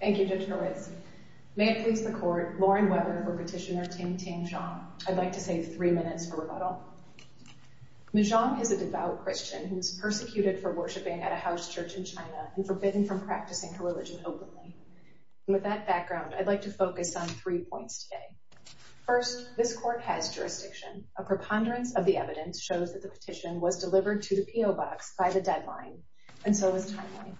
Thank you, Judge Horwitz. May it please the court, Lauren Weber for petitioner Tingting Zhang. I'd like to save three minutes for rebuttal. Ms. Zhang is a devout Christian who was persecuted for worshiping at a house church in China and forbidden from practicing her religion openly. With that background, I'd like to focus on three points today. First, this court has jurisdiction. A preponderance of the evidence shows that the petition was delivered to the PO Box by the deadline, and so is timeline.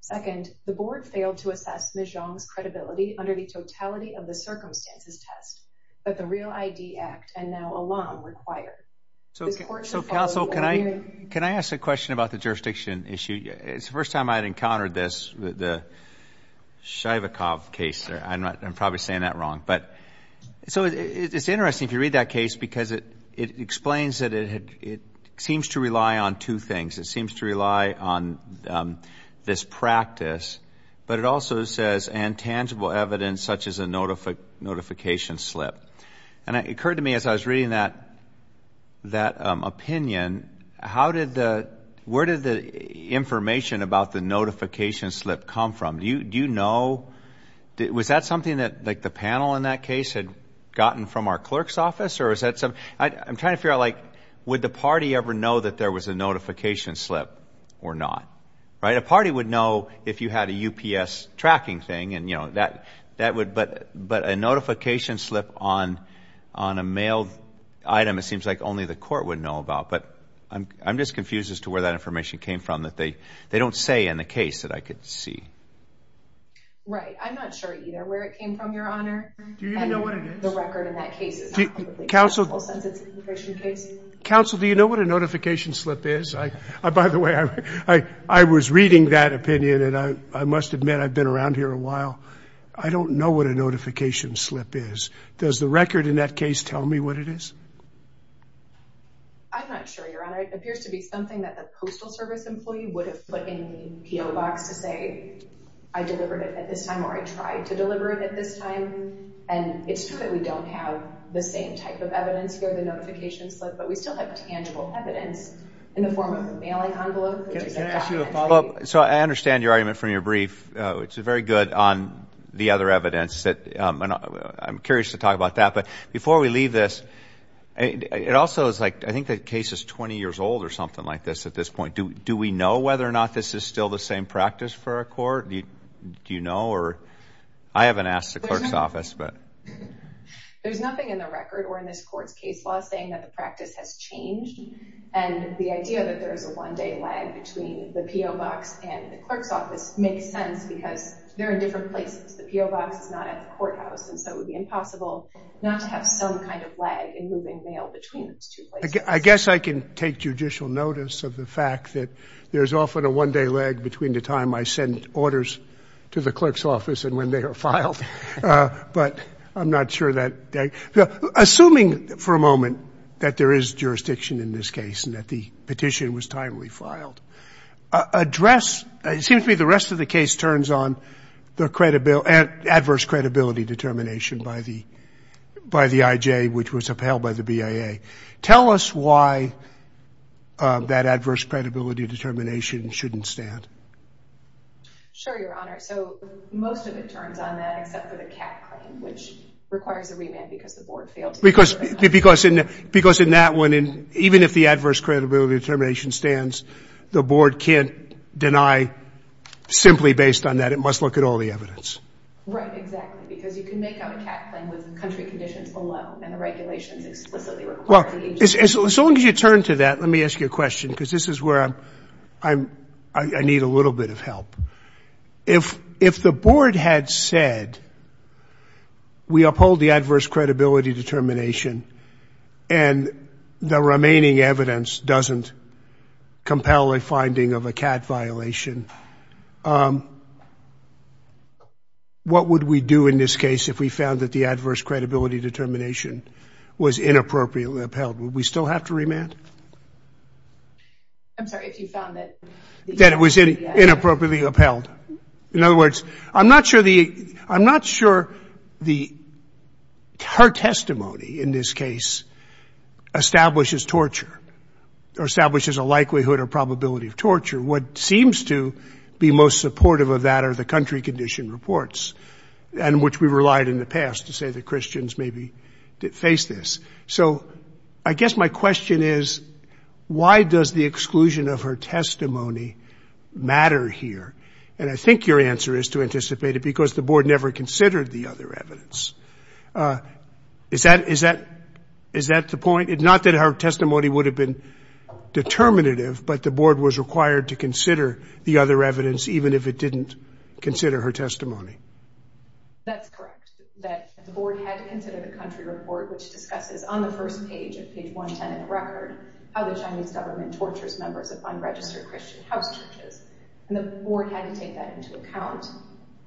Second, the board failed to assess Ms. Zhang's credibility under the totality of the circumstances test that the Real ID Act and now a law require. So, counsel, can I ask a question about the jurisdiction issue? It's the first time I had encountered this, the Shaivakov case. I'm probably saying that wrong, but so it's interesting if you read that case because it explains that it seems to rely on two things. It seems to rely on this practice, but it also says and tangible evidence such as a notification slip. And it occurred to me as I was reading that opinion, how did the, where did the information about the notification slip come from? Do you know, was that something that like the panel in that case had gotten from our clerk's office or is that some, I'm trying to figure out like, would the party ever know that there was a notification slip or not, right? A party would know if you had a UPS tracking thing and that would, but a notification slip on a mail item, it seems like only the court would know about, but I'm just confused as to where that information came from that they don't say in the case that I could see. Right, I'm not sure either where it came from, Your Honor. Do you even know what it is? The record in that case is not publicly available since it's an immigration case. Counsel, do you know what a notification slip is? By the way, I was reading that opinion and I must admit I've been around here a while. I don't know what a notification slip is. Does the record in that case tell me what it is? I'm not sure, Your Honor. It appears to be something that the postal service employee would have put in the PO box to say, I delivered it at this time or I tried to deliver it at this time. And it's true that we don't have the same type of evidence here, the notification slip, but we still have tangible evidence in the form of the mailing envelope. Can I ask you a follow-up? So I understand your argument from your brief. It's very good on the other evidence that, I'm curious to talk about that, but before we leave this, it also is like, I think the case is 20 years old or something like this at this point. Do we know whether or not this is still the same practice for a court? Do you know or? I haven't asked the clerk's office, but. There's nothing in the record or in this court's case law saying that the practice has changed. And the idea that there is a one day lag between the PO box and the clerk's office makes sense because they're in different places. The PO box is not at the courthouse. And so it would be impossible not to have some kind of lag in moving mail between those two places. I guess I can take judicial notice of the fact that there's often a one day lag between the time I send orders to the clerk's office and when they are filed. But I'm not sure that. Assuming for a moment that there is jurisdiction in this case and that the petition was timely filed, address, it seems to me the rest of the case turns on the adverse credibility determination by the IJ, which was upheld by the BIA. Tell us why that adverse credibility determination shouldn't stand. Sure, Your Honor. So most of it turns on that except for the cat claim, which requires a remand because the board failed to do it. Because in that one, even if the adverse credibility determination stands, the board can't deny simply based on that. It must look at all the evidence. Right, exactly. Because you can make out a cat claim with country conditions alone and the regulations explicitly require the agency. As long as you turn to that, let me ask you a question. Because this is where I need a little bit of help. If the board had said we uphold the adverse credibility determination and the remaining evidence doesn't compel a finding of a cat violation, what would we do in this case if we found that the adverse credibility determination was inappropriately upheld? Would we still have to remand? I'm sorry, if you found that? That it was inappropriately upheld. In other words, I'm not sure her testimony in this case establishes torture or establishes a likelihood or probability of torture. What seems to be most supportive of that are the country condition reports, and which we relied in the past to say the Christians maybe faced this. So I guess my question is, why does the exclusion of her testimony matter here? And I think your answer is to anticipate it because the board never considered the other evidence. Is that the point? Not that her testimony would have been determinative, but the board was required to consider the other evidence even if it didn't consider her testimony. That's correct. That the board had to consider the country report, which discusses on the first page of page 110 of the record how the Chinese government tortures members of unregistered Christian house churches. And the board had to take that into account.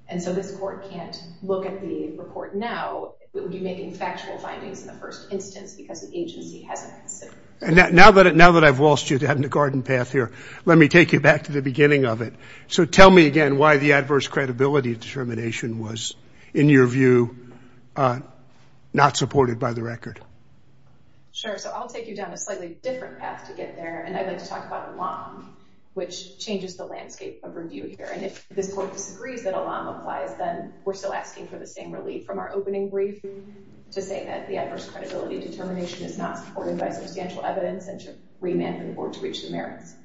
And so this court can't look at the report now. It would be making factual findings in the first instance because the agency hasn't considered it. Now that I've lost you down the garden path here, let me take you back to the beginning of it. So tell me again why the adverse credibility determination was, in your view, not supported by the record. Sure. So I'll take you down a slightly different path to get there. And I'd like to talk about Elam, which changes the landscape of review here. And if this court disagrees that Elam applies, then we're still asking for the same relief from our opening brief to say that the adverse credibility determination is not supported by substantial evidence and should remand the board to reach the merits.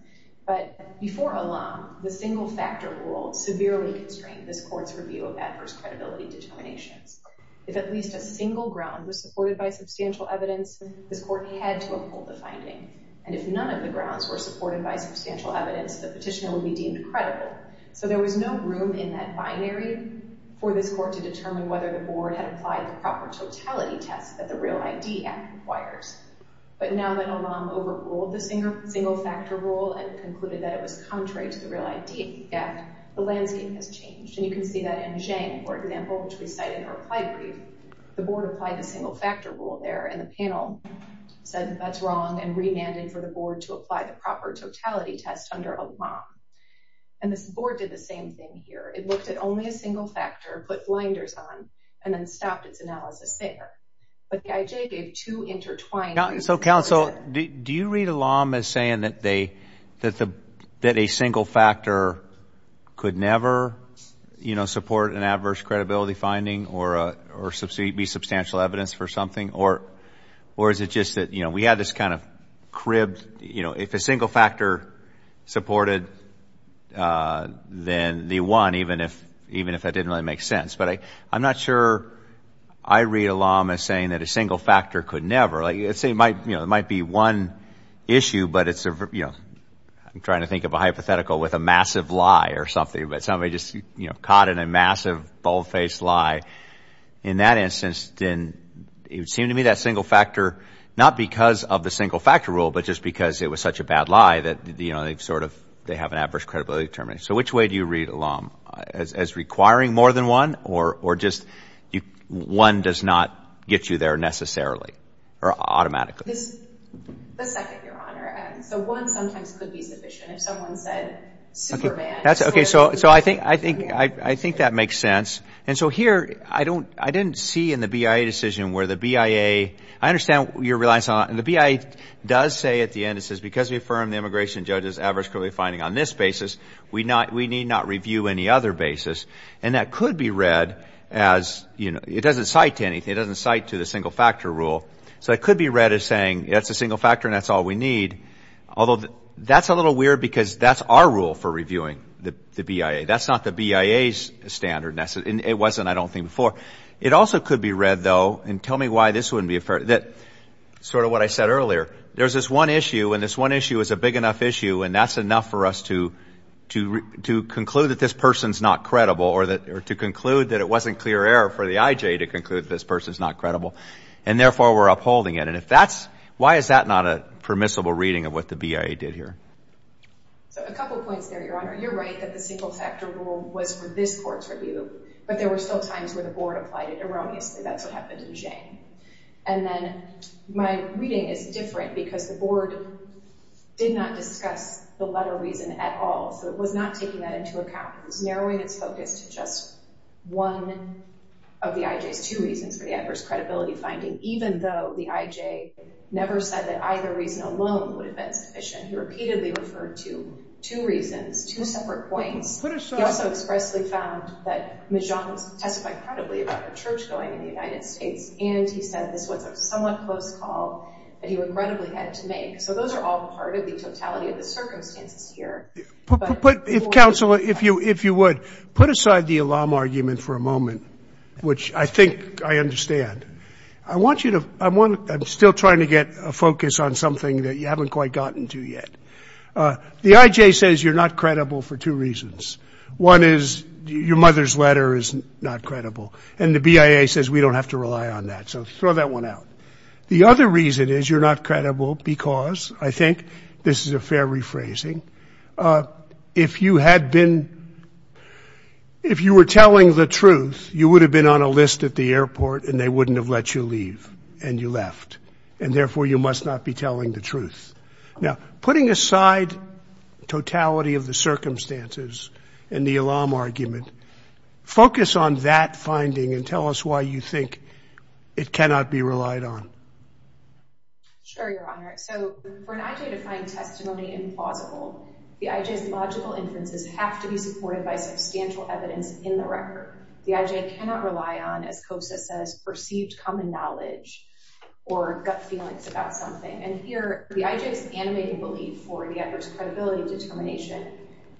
But before Elam, the single factor rule severely constrained this court's review of adverse credibility determinations. If at least a single ground was supported by substantial evidence, this court had to uphold the finding. And if none of the grounds were supported by substantial evidence, the petitioner would be deemed credible. So there was no room in that binary for this court to determine whether the board had applied the proper totality test that the Real ID Act requires. But now that Elam overruled the single factor rule and concluded that it was contrary to the Real ID Act, the landscape has changed. And you can see that in Zhang, for example, which we cite in our applied brief. The board applied the single factor rule there. And the panel said that's wrong and remanded for the board to apply the proper totality test under Elam. And this board did the same thing here. It looked at only a single factor, put blinders on, and then stopped its analysis there. But the IJ gave two intertwined reasons. So counsel, do you read Elam as saying that a single factor could never support an adverse credibility finding or be substantial evidence for something? Or is it just that we had this kind of cribbed, if a single factor supported, then they won, even if that didn't really make sense. But I'm not sure I read Elam as saying that a single factor could never. It might be one issue, but I'm trying to think of a hypothetical with a massive lie or something. But somebody just caught in a massive, bold-faced lie. In that instance, it would seem to me that single factor, not because of the single factor rule, but just because it was such a bad lie that they have an adverse credibility determination. So which way do you read Elam? As requiring more than one or just one does not get you there necessarily? Or automatically? The second, Your Honor. So one sometimes could be sufficient. If someone said Superman. That's okay. So I think that makes sense. And so here, I didn't see in the BIA decision where the BIA, I understand your reliance on, and the BIA does say at the end, it says, because we affirm the immigration judge's adverse credibility finding on this basis, we need not review any other basis. And that could be read as, it doesn't cite to anything. So it could be read as saying, that's a single factor and that's all we need. Although, that's a little weird because that's our rule for reviewing the BIA. That's not the BIA's standard. It wasn't, I don't think, before. It also could be read, though, and tell me why this wouldn't be a fair, sort of what I said earlier. There's this one issue, and this one issue is a big enough issue, and that's enough for us to conclude that this person's not credible or to conclude that it wasn't clear error for the IJ to conclude that this person's not credible. And therefore, we're upholding it. And if that's, why is that not a permissible reading of what the BIA did here? So, a couple points there, Your Honor. You're right that the single factor rule was for this court's review, but there were still times where the board applied it erroneously. That's what happened in Jane. And then, my reading is different because the board did not discuss the letter reason at all. So it was not taking that into account. It was narrowing its focus to just one of the IJ's two reasons for the adverse credibility finding, even though the IJ never said that either reason alone would have been sufficient. He repeatedly referred to two reasons, two separate points. He also expressly found that Ms. Johns testified credibly about the church going in the United States, and he said this was a somewhat close call that he would credibly had to make. So those are all part of the totality But if counsel, if you would, put aside the alarm argument for a moment, which I think I understand, I want you to, I'm still trying to get a focus on something that you haven't quite gotten to yet. The IJ says you're not credible for two reasons. One is your mother's letter is not credible, and the BIA says we don't have to rely on that. So throw that one out. The other reason is you're not credible because, I think this is a fair rephrasing, if you had been, if you were telling the truth, you would have been on a list at the airport, and they wouldn't have let you leave, and you left. And therefore, you must not be telling the truth. Now, putting aside totality of the circumstances and the alarm argument, focus on that finding and tell us why you think it cannot be relied on. Sure, Your Honor. So for an IJ to find testimony implausible, the IJ's logical inferences have to be supported by substantial evidence in the record. The IJ cannot rely on, as COSA says, perceived common knowledge or gut feelings about something. And here, the IJ's animated belief for the adverse credibility determination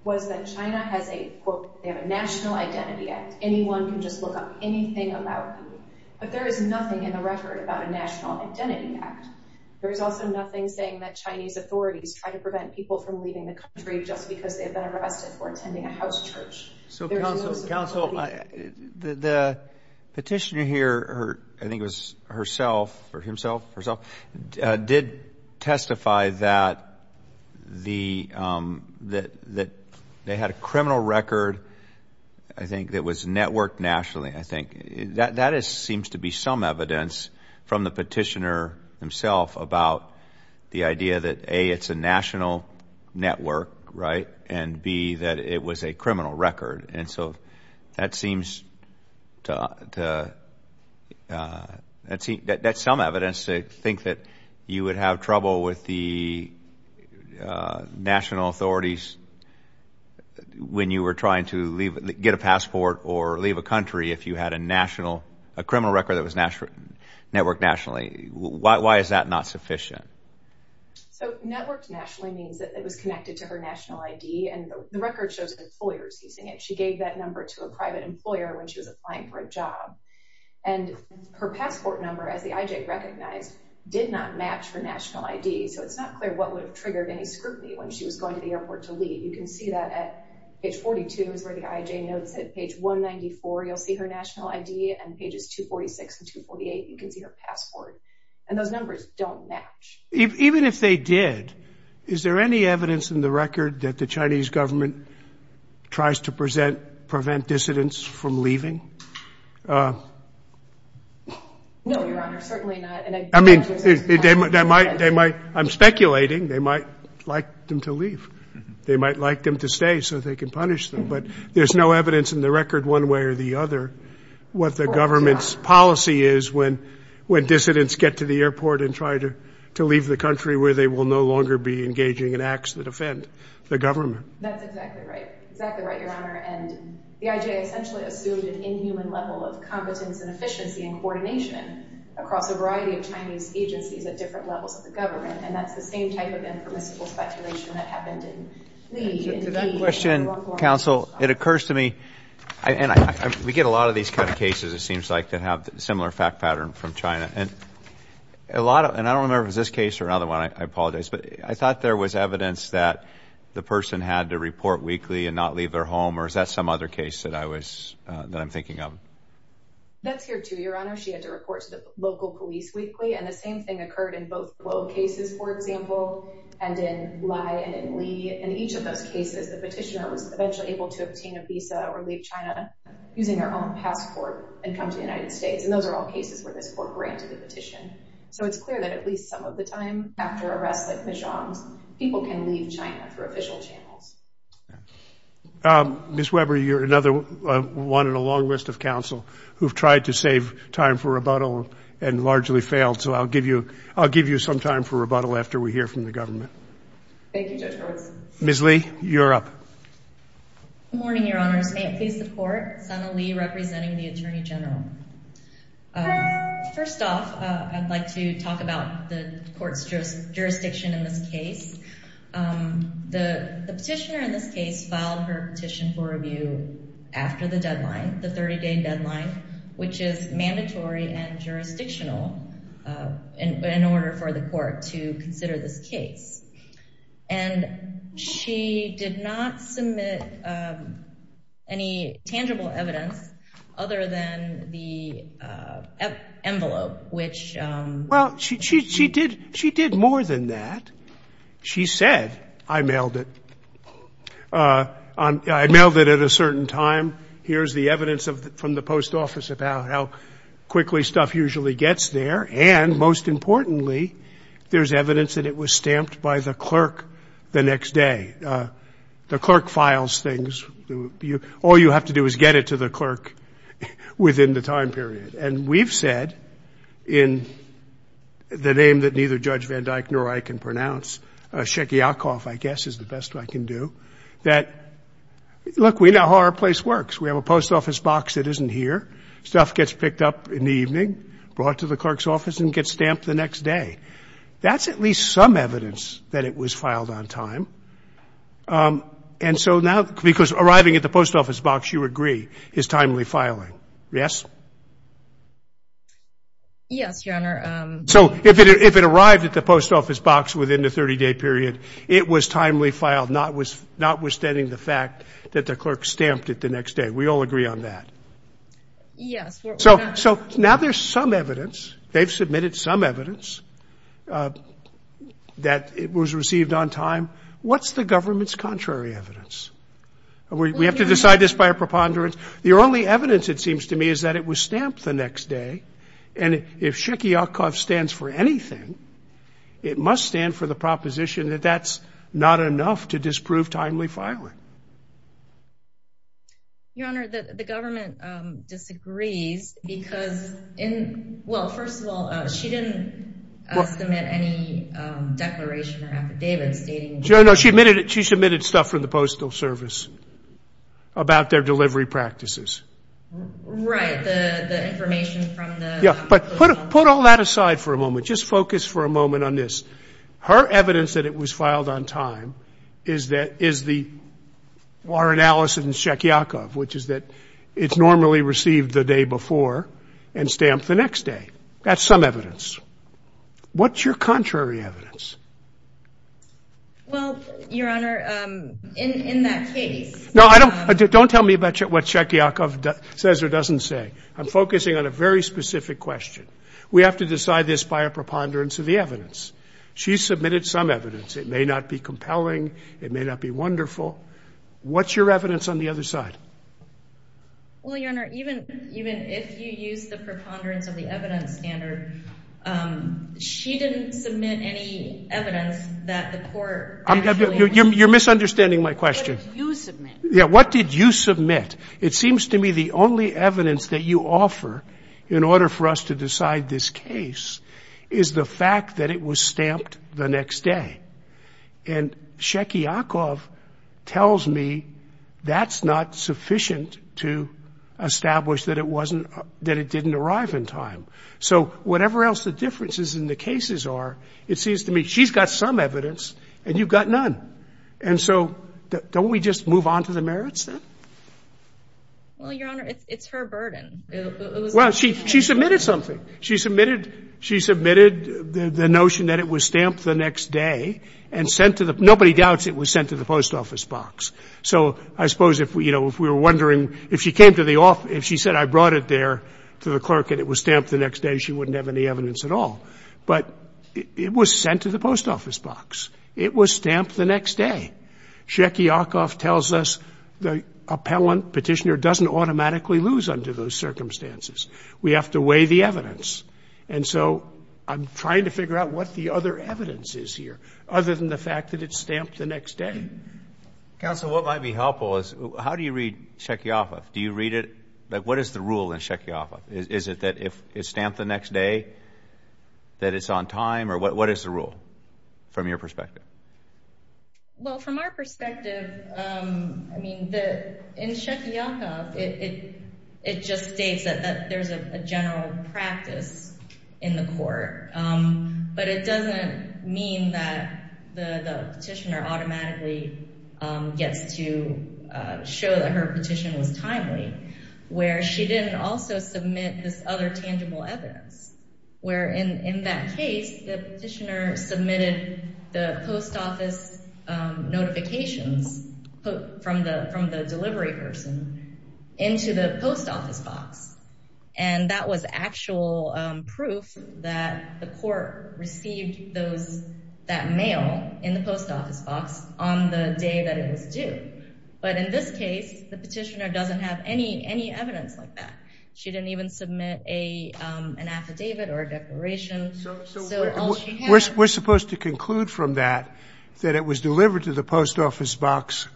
was that China has a, quote, they have a National Identity Act. Anyone can just look up anything about you. But there is nothing in the record about a National Identity Act. There is also nothing saying that Chinese authorities try to prevent people from leaving the country just because they've been arrested for attending a house church. So counsel, the petitioner here, I think it was herself or himself, did testify that they had a criminal record, I think, that was networked nationally. I think that seems to be some evidence from the petitioner himself about the idea that A, it's a national network, right, and B, that it was a criminal record. And so that seems to, that's some evidence to think that you would have trouble with the national authorities when you were trying to get a passport or leave a country if you had a national, a criminal record that was networked nationally. Why is that not sufficient? So networked nationally means that it was connected to her national ID, and the record shows employers using it. She gave that number to a private employer when she was applying for a job. And her passport number, as the IJ recognized, did not match her national ID, so it's not clear what would have triggered any scrutiny when she was going to the airport to leave. You can see that at page 42 is where the IJ notes it. Page 194, you'll see her national ID, and pages 246 and 248, you can see her passport. And those numbers don't match. Even if they did, is there any evidence in the record that the Chinese government tries to present, prevent dissidents from leaving? No, Your Honor, certainly not. I mean, they might, they might, I'm speculating, they might like them to leave. They might like them to stay so they can punish them. But there's no evidence in the record one way or the other what the government's policy is when dissidents get to the airport and try to leave the country where they will no longer be engaging in acts that offend the government. That's exactly right, exactly right, Your Honor. And the IJ essentially assumed an inhuman level of competence and efficiency and coordination across a variety of Chinese agencies at different levels of the government, and that's the same type of impermissible speculation that happened in Li and Yi. To that question, counsel, it occurs to me, and we get a lot of these kind of cases, it seems like, that have a similar fact pattern from China. And I don't remember if it was this case or another one, I apologize, but I thought there was evidence that the person had to report weekly and not leave their home, or is that some other case that I'm thinking of? That's here too, Your Honor. She had to report to the local police weekly, and the same thing occurred in both Luo cases, for example, and in Li and in Li. In each of those cases, the petitioner was eventually able to obtain a visa or leave China using her own passport and come to the United States, and those are all cases where this court granted the petition. So it's clear that at least some of the time after arrests like the Zhang's, people can leave China through official channels. Ms. Weber, you're another one in a long list of counsel who've tried to save time for rebuttal and largely failed, so I'll give you some time for rebuttal after we hear from the government. Thank you, Judge Roberts. Ms. Li, you're up. Good morning, Your Honors. May it please the Court, Sana Li representing the Attorney General. First off, I'd like to talk about the Court's jurisdiction in this case. The petitioner in this case filed her petition for review after the deadline, the 30-day deadline, which is mandatory and jurisdictional in order for the Court to consider this case. And she did not submit any tangible evidence other than the envelope, which... Well, she did more than that. She said, I mailed it. I mailed it at a certain time. Here's the evidence from the post office about how quickly stuff usually gets there, and most importantly, there's evidence that it was stamped by the clerk the next day. The clerk files things. All you have to do is get it to the clerk within the time period. And we've said, in the name that neither Judge Van Dyck nor I can pronounce, Shekiakoff, I guess, is the best I can do, that, look, we know how our place works. We have a post office box that isn't here. Stuff gets picked up in the evening, brought to the clerk's office, and gets stamped the next day. That's at least some evidence that it was filed on time. And so now, because arriving at the post office box, you agree, is timely filing, yes? Yes, Your Honor. So if it arrived at the post office box within the 30-day period, it was timely filed, notwithstanding the fact that the clerk stamped it the next day. We all agree on that. Yes. So now there's some evidence, they've submitted some evidence, that it was received on time. What's the government's contrary evidence? We have to decide this by a preponderance. The only evidence, it seems to me, is that it was stamped the next day. And if Shekiakoff stands for anything, it must stand for the proposition that that's not enough to disprove timely filing. Your Honor, the government disagrees because in – well, first of all, she didn't submit any declaration or affidavits stating – No, she submitted stuff from the Postal Service about their delivery practices. Right, the information from the – Yeah, but put all that aside for a moment. Just focus for a moment on this. Her evidence that it was filed on time is the – our analysis in Shekiakoff, which is that it's normally received the day before and stamped the next day. That's some evidence. What's your contrary evidence? Well, Your Honor, in that case – No, I don't – don't tell me what Shekiakoff says or doesn't say. I'm focusing on a very specific question. We have to decide this by a preponderance of the evidence. She submitted some evidence. It may not be compelling. It may not be wonderful. What's your evidence on the other side? Well, Your Honor, even if you use the preponderance of the evidence standard, she didn't submit any evidence that the court actually – You're misunderstanding my question. What did you submit? Yeah, what did you submit? It seems to me the only evidence that you offer in order for us to decide this case is the fact that it was stamped the next day. And Shekiakoff tells me that's not sufficient to establish that it wasn't – that it didn't arrive in time. So whatever else the differences in the cases are, it seems to me she's got some evidence and you've got none. And so don't we just move on to the merits then? Well, Your Honor, it's her burden. Well, she submitted something. She submitted – she submitted the notion that it was stamped the next day and sent to the – nobody doubts it was sent to the post office box. So I suppose, you know, if we were wondering – if she came to the – if she said I brought it there to the clerk and it was stamped the next day, she wouldn't have any evidence at all. But it was sent to the post office box. It was stamped the next day. Shekiakoff tells us the appellant, petitioner, doesn't automatically lose under those circumstances. We have to weigh the evidence. And so I'm trying to figure out what the other evidence is here other than the fact that it's stamped the next day. Counsel, what might be helpful is how do you read Shekiakoff? Do you read it – like what is the rule in Shekiakoff? Is it that if it's stamped the next day that it's on time? Or what is the rule from your perspective? Well, from our perspective, I mean, in Shekiakoff, it just states that there's a general practice in the court. But it doesn't mean that the petitioner automatically gets to show that her petition was timely where she didn't also submit this other tangible evidence. Where in that case, the petitioner submitted the post office notifications from the delivery person into the post office box. And that was actual proof that the court received that mail in the post office box on the day that it was due. But in this case, the petitioner doesn't have any evidence like that. She didn't even submit an affidavit or a declaration. We're supposed to conclude from that that it was delivered to the post office box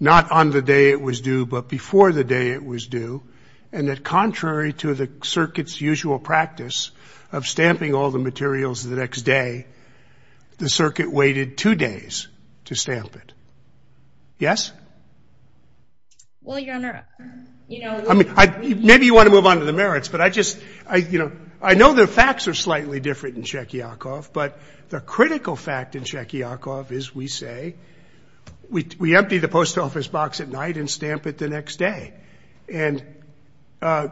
not on the day it was due but before the day it was due. And that contrary to the circuit's usual practice of stamping all the materials the next day, the circuit waited two days to stamp it. Yes? Well, Your Honor, you know. Maybe you want to move on to the merits. But I just, you know, I know the facts are slightly different in Shekiakoff. But the critical fact in Shekiakoff is we say we empty the post office box at night and stamp it the next day. And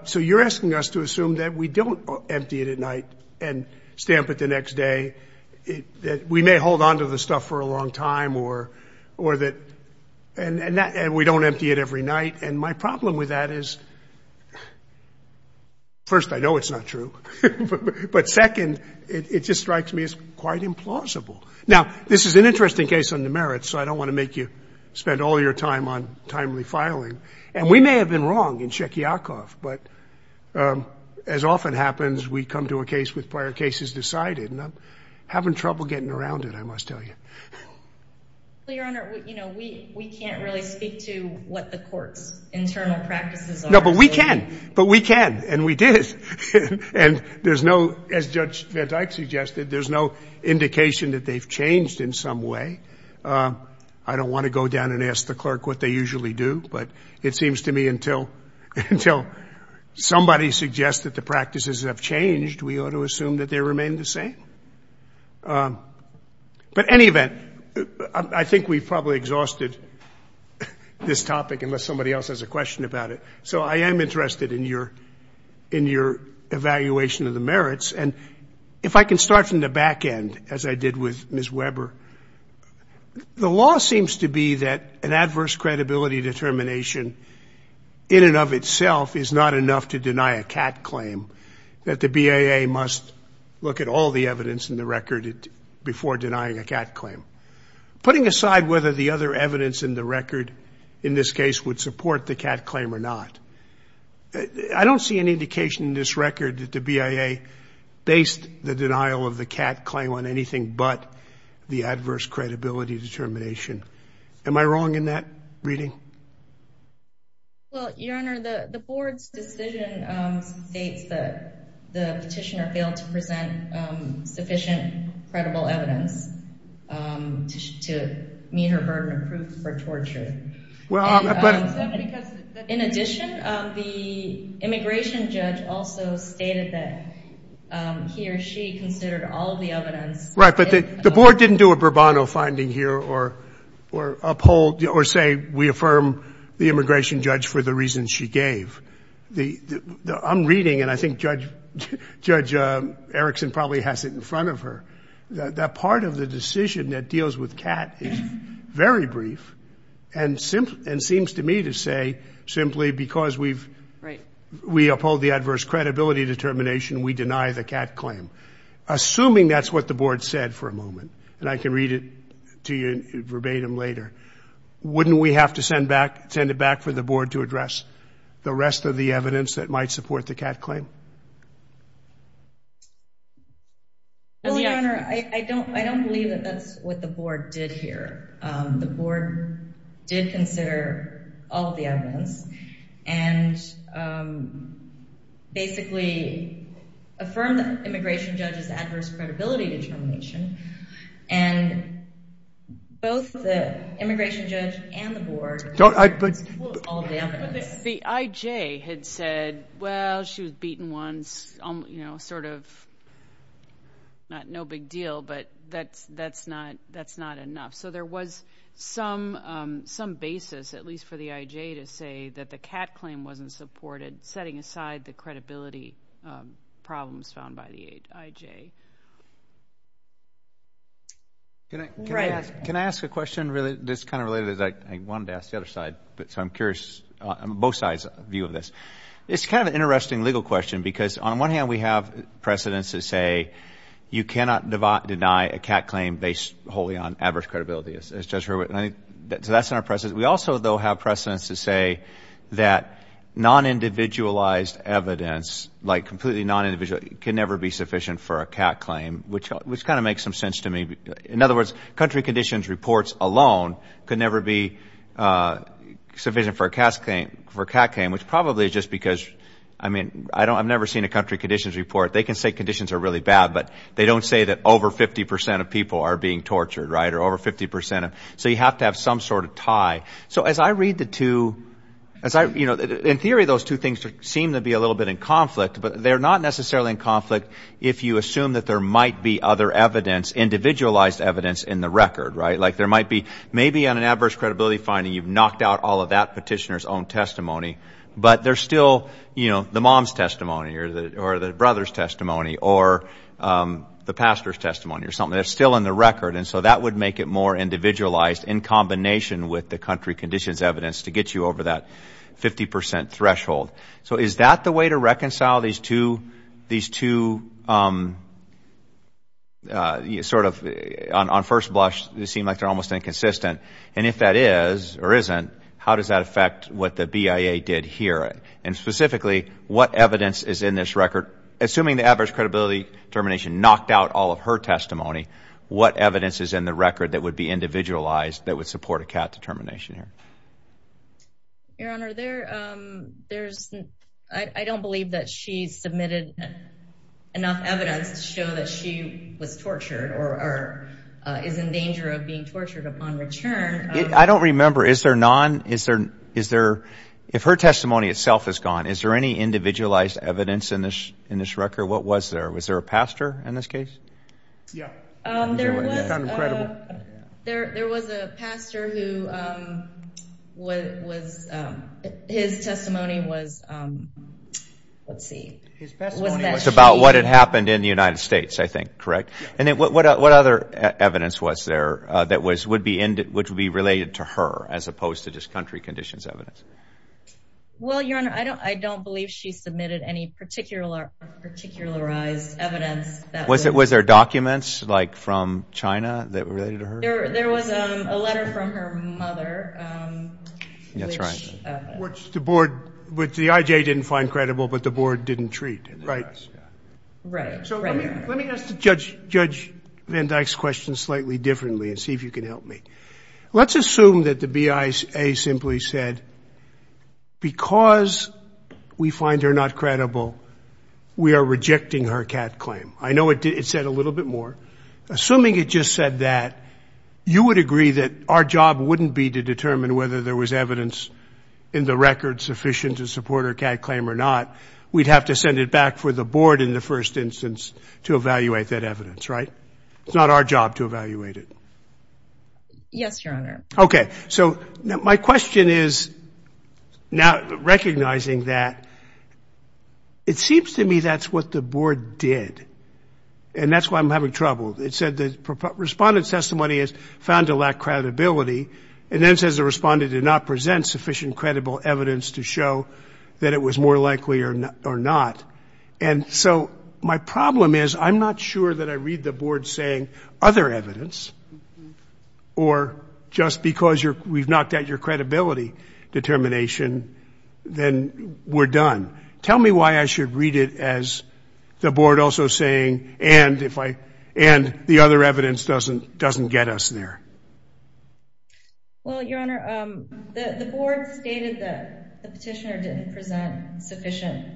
so you're asking us to assume that we don't empty it at night and stamp it the next day, that we may hold on to the stuff for a long time or that we don't empty it every night. And my problem with that is, first, I know it's not true. But second, it just strikes me as quite implausible. Now, this is an interesting case on the merits, so I don't want to make you spend all your time on timely filing. And we may have been wrong in Shekiakoff. But as often happens, we come to a case with prior cases decided. And I'm having trouble getting around it, I must tell you. Well, Your Honor, you know, we can't really speak to what the court's internal practices are. No, but we can. But we can. And we did. And there's no, as Judge Van Dyke suggested, there's no indication that they've changed in some way. I don't want to go down and ask the clerk what they usually do. But it seems to me until somebody suggests that the practices have changed, we ought to assume that they remain the same. But any event, I think we've probably exhausted this topic, unless somebody else has a question about it. So I am interested in your evaluation of the merits. And if I can start from the back end, as I did with Ms. Weber, the law seems to be that an adverse credibility determination, in and of itself, is not enough to deny a CAT claim, that the BIA must look at all the evidence in the record before denying a CAT claim. Putting aside whether the other evidence in the record, in this case, would support the CAT claim or not, I don't see any indication in this record that the BIA based the denial of the CAT claim on anything but the adverse credibility determination. Am I wrong in that reading? Your Honor, the Board's decision states that the petitioner failed to present sufficient credible evidence to meet her burden of proof for torture. In addition, the immigration judge also stated that he or she considered all of the evidence. Right, but the Board didn't do a Bourbon finding here or uphold or say we affirm the immigration judge for the reasons she gave. I'm reading, and I think Judge Erickson probably has it in front of her, that part of the decision that deals with CAT is very brief and seems to me to say, simply because we uphold the adverse credibility determination, we deny the CAT claim. Assuming that's what the Board said for a moment, and I can read it to you verbatim later, wouldn't we have to send it back for the Board to address the rest of the evidence that might support the CAT claim? Well, Your Honor, I don't believe that that's what the Board did here. The Board did consider all of the evidence and basically affirmed the immigration judge's adverse credibility determination, and both the immigration judge and the Board used all of the evidence. But the IJ had said, well, she was beaten once, you know, sort of no big deal, but that's not enough. So there was some basis, at least for the IJ, to say that the CAT claim wasn't supported, setting aside the credibility problems found by the IJ. Can I ask a question that's kind of related? I wanted to ask the other side, so I'm curious, both sides' view of this. It's kind of an interesting legal question because, on one hand, we have precedence to say you cannot deny a CAT claim based wholly on adverse credibility, as Judge Hurwitz. So that's in our precedence. We also, though, have precedence to say that non-individualized evidence, like completely non-individual, can never be sufficient for a CAT claim, which kind of makes some sense to me. In other words, country conditions reports alone could never be sufficient for a CAT claim, which probably is just because, I mean, I've never seen a country conditions report. They can say conditions are really bad, but they don't say that over 50 percent of people are being tortured, right, or over 50 percent. So you have to have some sort of tie. So as I read the two, you know, in theory those two things seem to be a little bit in conflict, but they're not necessarily in conflict if you assume that there might be other evidence, individualized evidence, in the record, right? Like there might be maybe on an adverse credibility finding you've knocked out all of that petitioner's own testimony, but there's still, you know, the mom's testimony or the brother's testimony or the pastor's testimony or something that's still in the record. And so that would make it more individualized in combination with the country conditions evidence to get you over that 50 percent threshold. So is that the way to reconcile these two sort of on first blush seem like they're almost inconsistent? And if that is or isn't, how does that affect what the BIA did here? And specifically, what evidence is in this record? Assuming the adverse credibility determination knocked out all of her testimony, what evidence is in the record that would be individualized that would support a CAT determination here? Your Honor, I don't believe that she submitted enough evidence to show that she was tortured or is in danger of being tortured upon return. I don't remember. Is there none? If her testimony itself is gone, is there any individualized evidence in this record? What was there? Was there a pastor in this case? Yeah. There was a pastor who his testimony was, let's see. His testimony was about what had happened in the United States, I think, correct? And then what other evidence was there that would be related to her as opposed to just country conditions evidence? Well, Your Honor, I don't believe she submitted any particularized evidence. Was there documents like from China that were related to her? There was a letter from her mother. That's right. Which the IJ didn't find credible, but the board didn't treat, right? Right. So let me ask Judge Van Dyke's question slightly differently and see if you can help me. Let's assume that the BIA simply said because we find her not credible, we are rejecting her CAT claim. I know it said a little bit more. Assuming it just said that, you would agree that our job wouldn't be to determine whether there was evidence in the record sufficient to support her CAT claim or not. We'd have to send it back for the board in the first instance to evaluate that evidence, right? It's not our job to evaluate it. Yes, Your Honor. Okay. So my question is, now recognizing that, it seems to me that's what the board did. And that's why I'm having trouble. It said the respondent's testimony is found to lack credibility. And then it says the respondent did not present sufficient credible evidence to show that it was more likely or not. And so my problem is I'm not sure that I read the board saying other evidence or just because we've knocked out your credibility determination, then we're done. Tell me why I should read it as the board also saying and the other evidence doesn't get us there. Well, Your Honor, the board stated that the petitioner didn't present sufficient.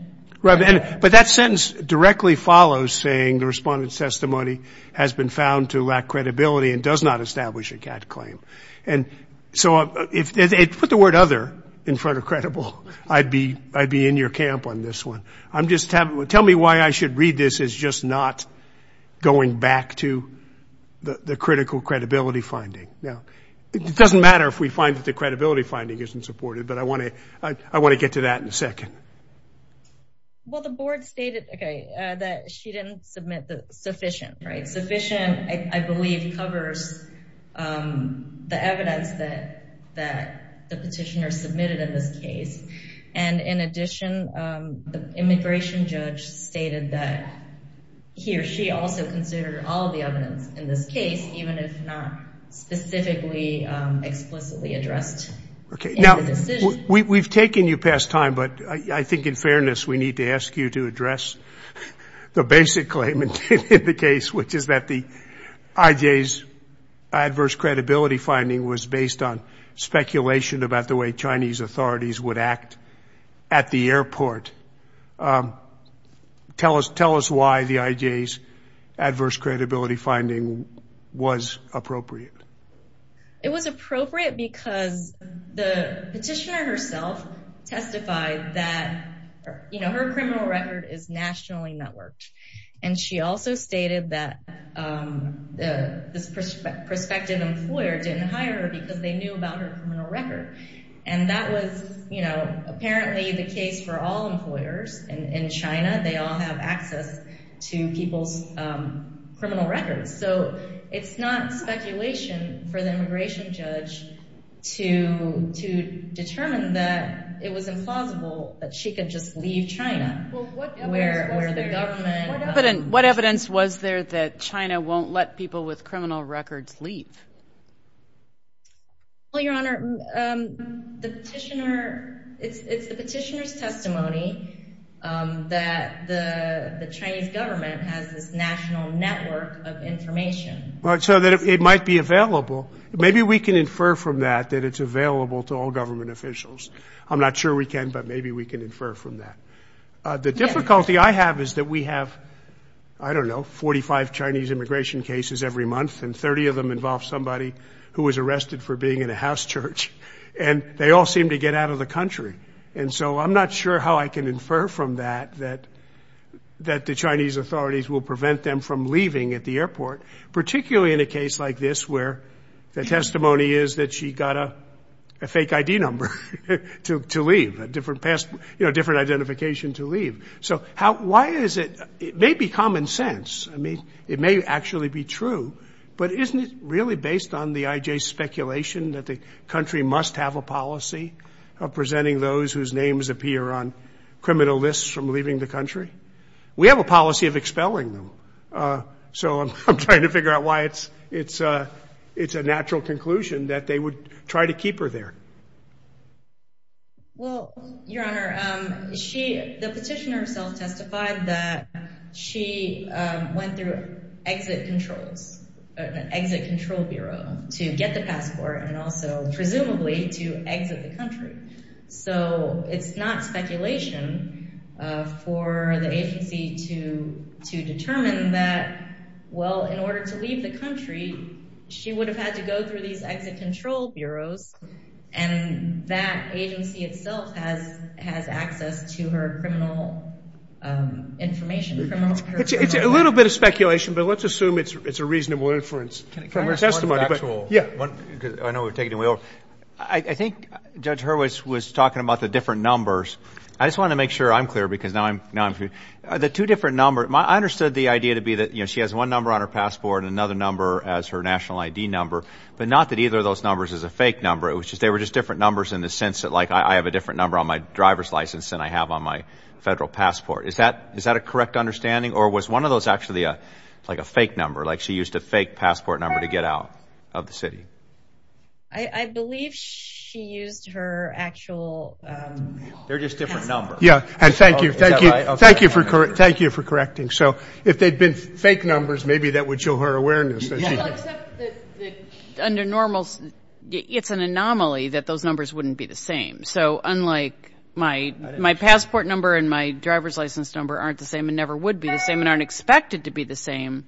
Right. But that sentence directly follows saying the respondent's testimony has been found to lack credibility and does not establish a CAT claim. And so if they put the word other in front of credible, I'd be in your camp on this one. Tell me why I should read this as just not going back to the critical credibility finding. Now, it doesn't matter if we find that the credibility finding isn't supported, but I want to get to that in a second. Well, the board stated that she didn't submit sufficient. Right. Sufficient, I believe, covers the evidence that the petitioner submitted in this case. And in addition, the immigration judge stated that he or she also considered all of the evidence in this case, even if not specifically explicitly addressed in the decision. Now, we've taken you past time, but I think in fairness we need to ask you to address the basic claim in the case, which is that the IJ's adverse credibility finding was based on speculation about the way Chinese authorities would act at the airport. Tell us why the IJ's adverse credibility finding was appropriate. It was appropriate because the petitioner herself testified that, you know, her criminal record is nationally networked. And she also stated that this prospective employer didn't hire her because they knew about her criminal record. And that was, you know, apparently the case for all employers in China. They all have access to people's criminal records. So it's not speculation for the immigration judge to determine that it was implausible that she could just leave China where the government. What evidence was there that China won't let people with criminal records leave? Well, Your Honor, it's the petitioner's testimony that the Chinese government has this national network of information. So that it might be available. Maybe we can infer from that that it's available to all government officials. I'm not sure we can, but maybe we can infer from that. The difficulty I have is that we have, I don't know, 45 Chinese immigration cases every month, and 30 of them involve somebody who was arrested for being in a house church. And they all seem to get out of the country. And so I'm not sure how I can infer from that that the Chinese authorities will prevent them from leaving at the airport, particularly in a case like this where the testimony is that she got a fake ID number to leave, a different identification to leave. So why is it, it may be common sense. I mean, it may actually be true. But isn't it really based on the IJ's speculation that the country must have a policy of presenting those whose names appear on criminal lists from leaving the country? We have a policy of expelling them. So I'm trying to figure out why it's a natural conclusion that they would try to keep her there. Well, Your Honor, the petitioner herself testified that she went through exit controls, an exit control bureau to get the passport and also presumably to exit the country. So it's not speculation for the agency to determine that, well, in order to leave the country, she would have had to go through these exit control bureaus, and that agency itself has access to her criminal information. It's a little bit of speculation, but let's assume it's a reasonable inference from her testimony. Can I ask one factual? Yeah. I know we're taking it in the wheel. I think Judge Hurwitz was talking about the different numbers. I just wanted to make sure I'm clear because now I'm confused. The two different numbers, I understood the idea to be that, you know, she has one number on her passport and another number as her national ID number, but not that either of those numbers is a fake number. They were just different numbers in the sense that, like, I have a different number on my driver's license than I have on my federal passport. Is that a correct understanding, or was one of those actually like a fake number, like she used a fake passport number to get out of the city? I believe she used her actual passport number. They're just different numbers. Yeah. Thank you. Thank you for correcting. So if they'd been fake numbers, maybe that would show her awareness. Well, except that under normal, it's an anomaly that those numbers wouldn't be the same. So unlike my passport number and my driver's license number aren't the same and never would be the same and aren't expected to be the same,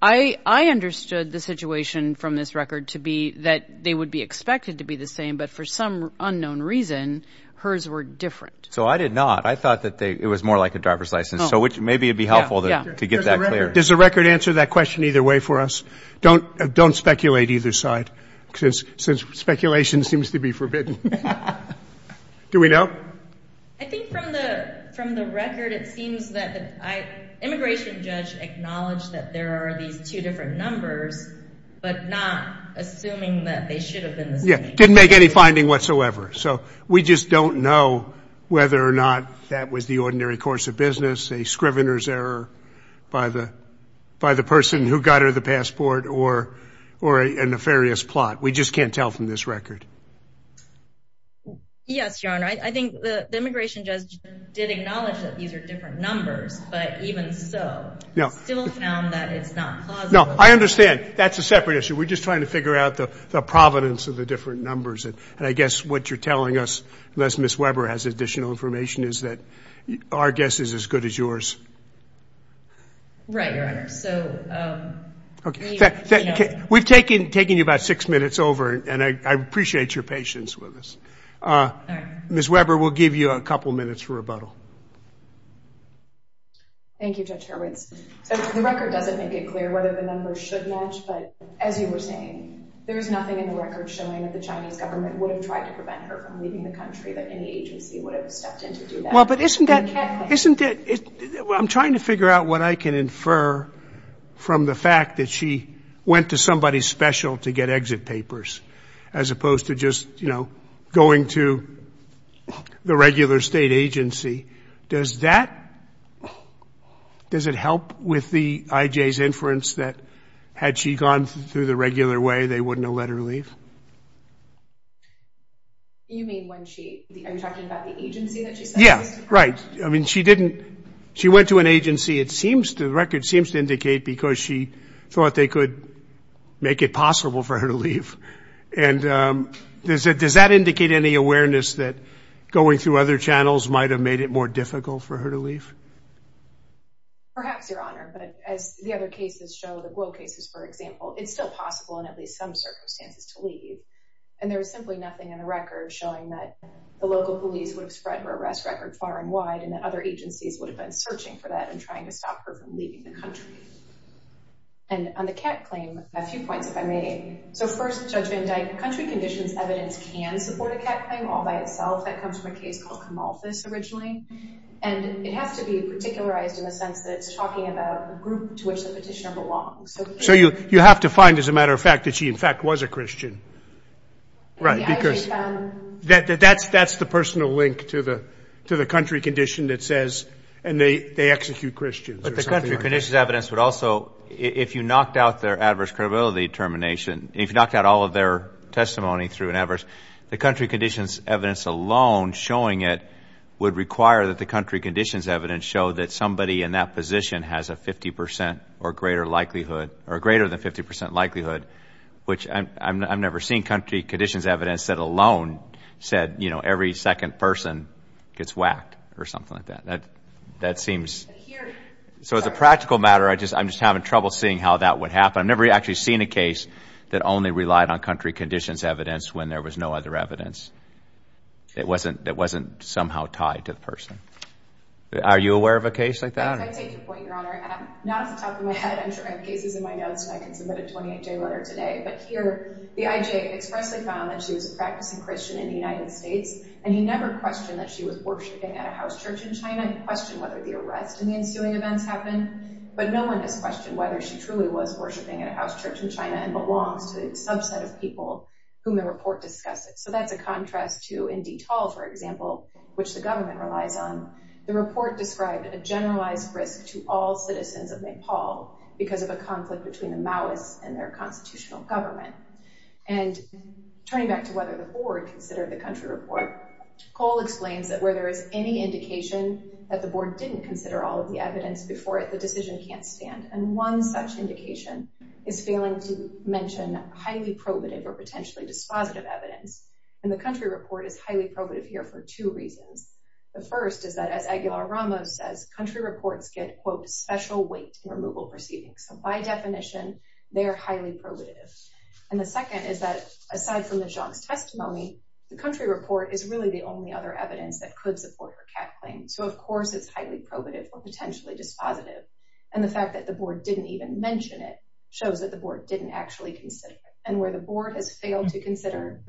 I understood the situation from this record to be that they would be expected to be the same, but for some unknown reason, hers were different. So I did not. I thought that it was more like a driver's license, so maybe it would be helpful to get that clear. Does the record answer that question either way for us? Don't speculate either side, since speculation seems to be forbidden. Do we know? I think from the record, it seems that the immigration judge acknowledged that there are these two different numbers, but not assuming that they should have been the same. Yeah, didn't make any finding whatsoever. So we just don't know whether or not that was the ordinary course of business, a scrivener's error by the person who got her the passport or a nefarious plot. We just can't tell from this record. Yes, Your Honor. I think the immigration judge did acknowledge that these are different numbers, but even so still found that it's not plausible. No, I understand. That's a separate issue. We're just trying to figure out the providence of the different numbers, and I guess what you're telling us, unless Ms. Weber has additional information, is that our guess is as good as yours. Right, Your Honor. We've taken you about six minutes over, and I appreciate your patience with us. Ms. Weber, we'll give you a couple minutes for rebuttal. Thank you, Judge Hurwitz. The record doesn't make it clear whether the numbers should match, but as you were saying, there is nothing in the record showing that the Chinese government would have tried to prevent her from leaving the country, that any agency would have stepped in to do that. Well, but isn't that – isn't it – I'm trying to figure out what I can infer from the fact that she went to somebody special to get exit papers as opposed to just, you know, going to the regular state agency. Does that – does it help with the IJ's inference that had she gone through the regular way, they wouldn't have let her leave? You mean when she – are you talking about the agency that she sent these? Yeah, right. I mean, she didn't – she went to an agency. It seems to – the record seems to indicate because she thought they could make it possible for her to leave. And does that indicate any awareness that going through other channels might have made it more difficult for her to leave? Perhaps, Your Honor, but as the other cases show, the Guo cases, for example, it's still possible in at least some circumstances to leave. And there is simply nothing in the record showing that the local police would have spread her arrest record far and wide and that other agencies would have been searching for that and trying to stop her from leaving the country. And on the Kat claim, a few points if I may. So first, Judge Van Dyke, country conditions evidence can support a Kat claim all by itself. That comes from a case called Kamalthus originally. And it has to be particularized in the sense that it's talking about a group to which the petitioner belongs. So you have to find, as a matter of fact, that she, in fact, was a Christian. Right. Because that's the personal link to the country condition that says – and they execute Christians. But the country conditions evidence would also – if you knocked out their adverse credibility determination, if you knocked out all of their testimony through an adverse – the country conditions evidence alone showing it would require that the country conditions evidence show that somebody in that position has a 50% or greater likelihood – or greater than 50% likelihood, which I've never seen country conditions evidence that alone said every second person gets whacked or something like that. That seems – so as a practical matter, I'm just having trouble seeing how that would happen. I've never actually seen a case that only relied on country conditions evidence when there was no other evidence. It wasn't somehow tied to the person. Are you aware of a case like that? If I take your point, Your Honor, not off the top of my head. I'm sure I have cases in my notes, and I can submit a 28-day letter today. But here, the IJ expressly found that she was a practicing Christian in the United States, and he never questioned that she was worshipping at a house church in China and questioned whether the arrest and the ensuing events happened. But no one has questioned whether she truly was worshipping at a house church in China and belongs to a subset of people whom the report discusses. So that's a contrast to Indy Tall, for example, which the government relies on. The report described a generalized risk to all citizens of Nepal because of a conflict between the Maoists and their constitutional government. And turning back to whether the board considered the country report, Cole explains that where there is any indication that the board didn't consider all of the evidence before it, the decision can't stand. And one such indication is failing to mention highly probative or potentially dispositive evidence. And the country report is highly probative here for two reasons. The first is that, as Aguilar-Ramos says, country reports get, quote, special weight in removal proceedings. So by definition, they are highly probative. And the second is that, aside from the Jiang's testimony, the country report is really the only other evidence that could support her cat claim. So, of course, it's highly probative or potentially dispositive. And the fact that the board didn't even mention it shows that the board didn't actually consider it. And where the board has failed to consider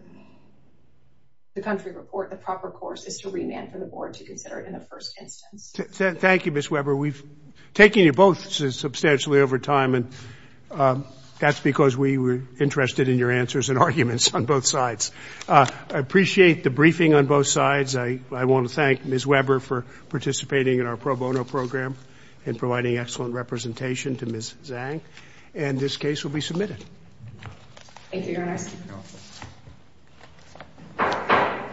the country report, the proper course is to remand for the board to consider it in the first instance. Thank you, Ms. Weber. We've taken you both substantially over time, and that's because we were interested in your answers and arguments on both sides. I appreciate the briefing on both sides. I want to thank Ms. Weber for participating in our pro bono program and providing excellent representation to Ms. Zhang. And this case will be submitted. Thank you, Your Honor.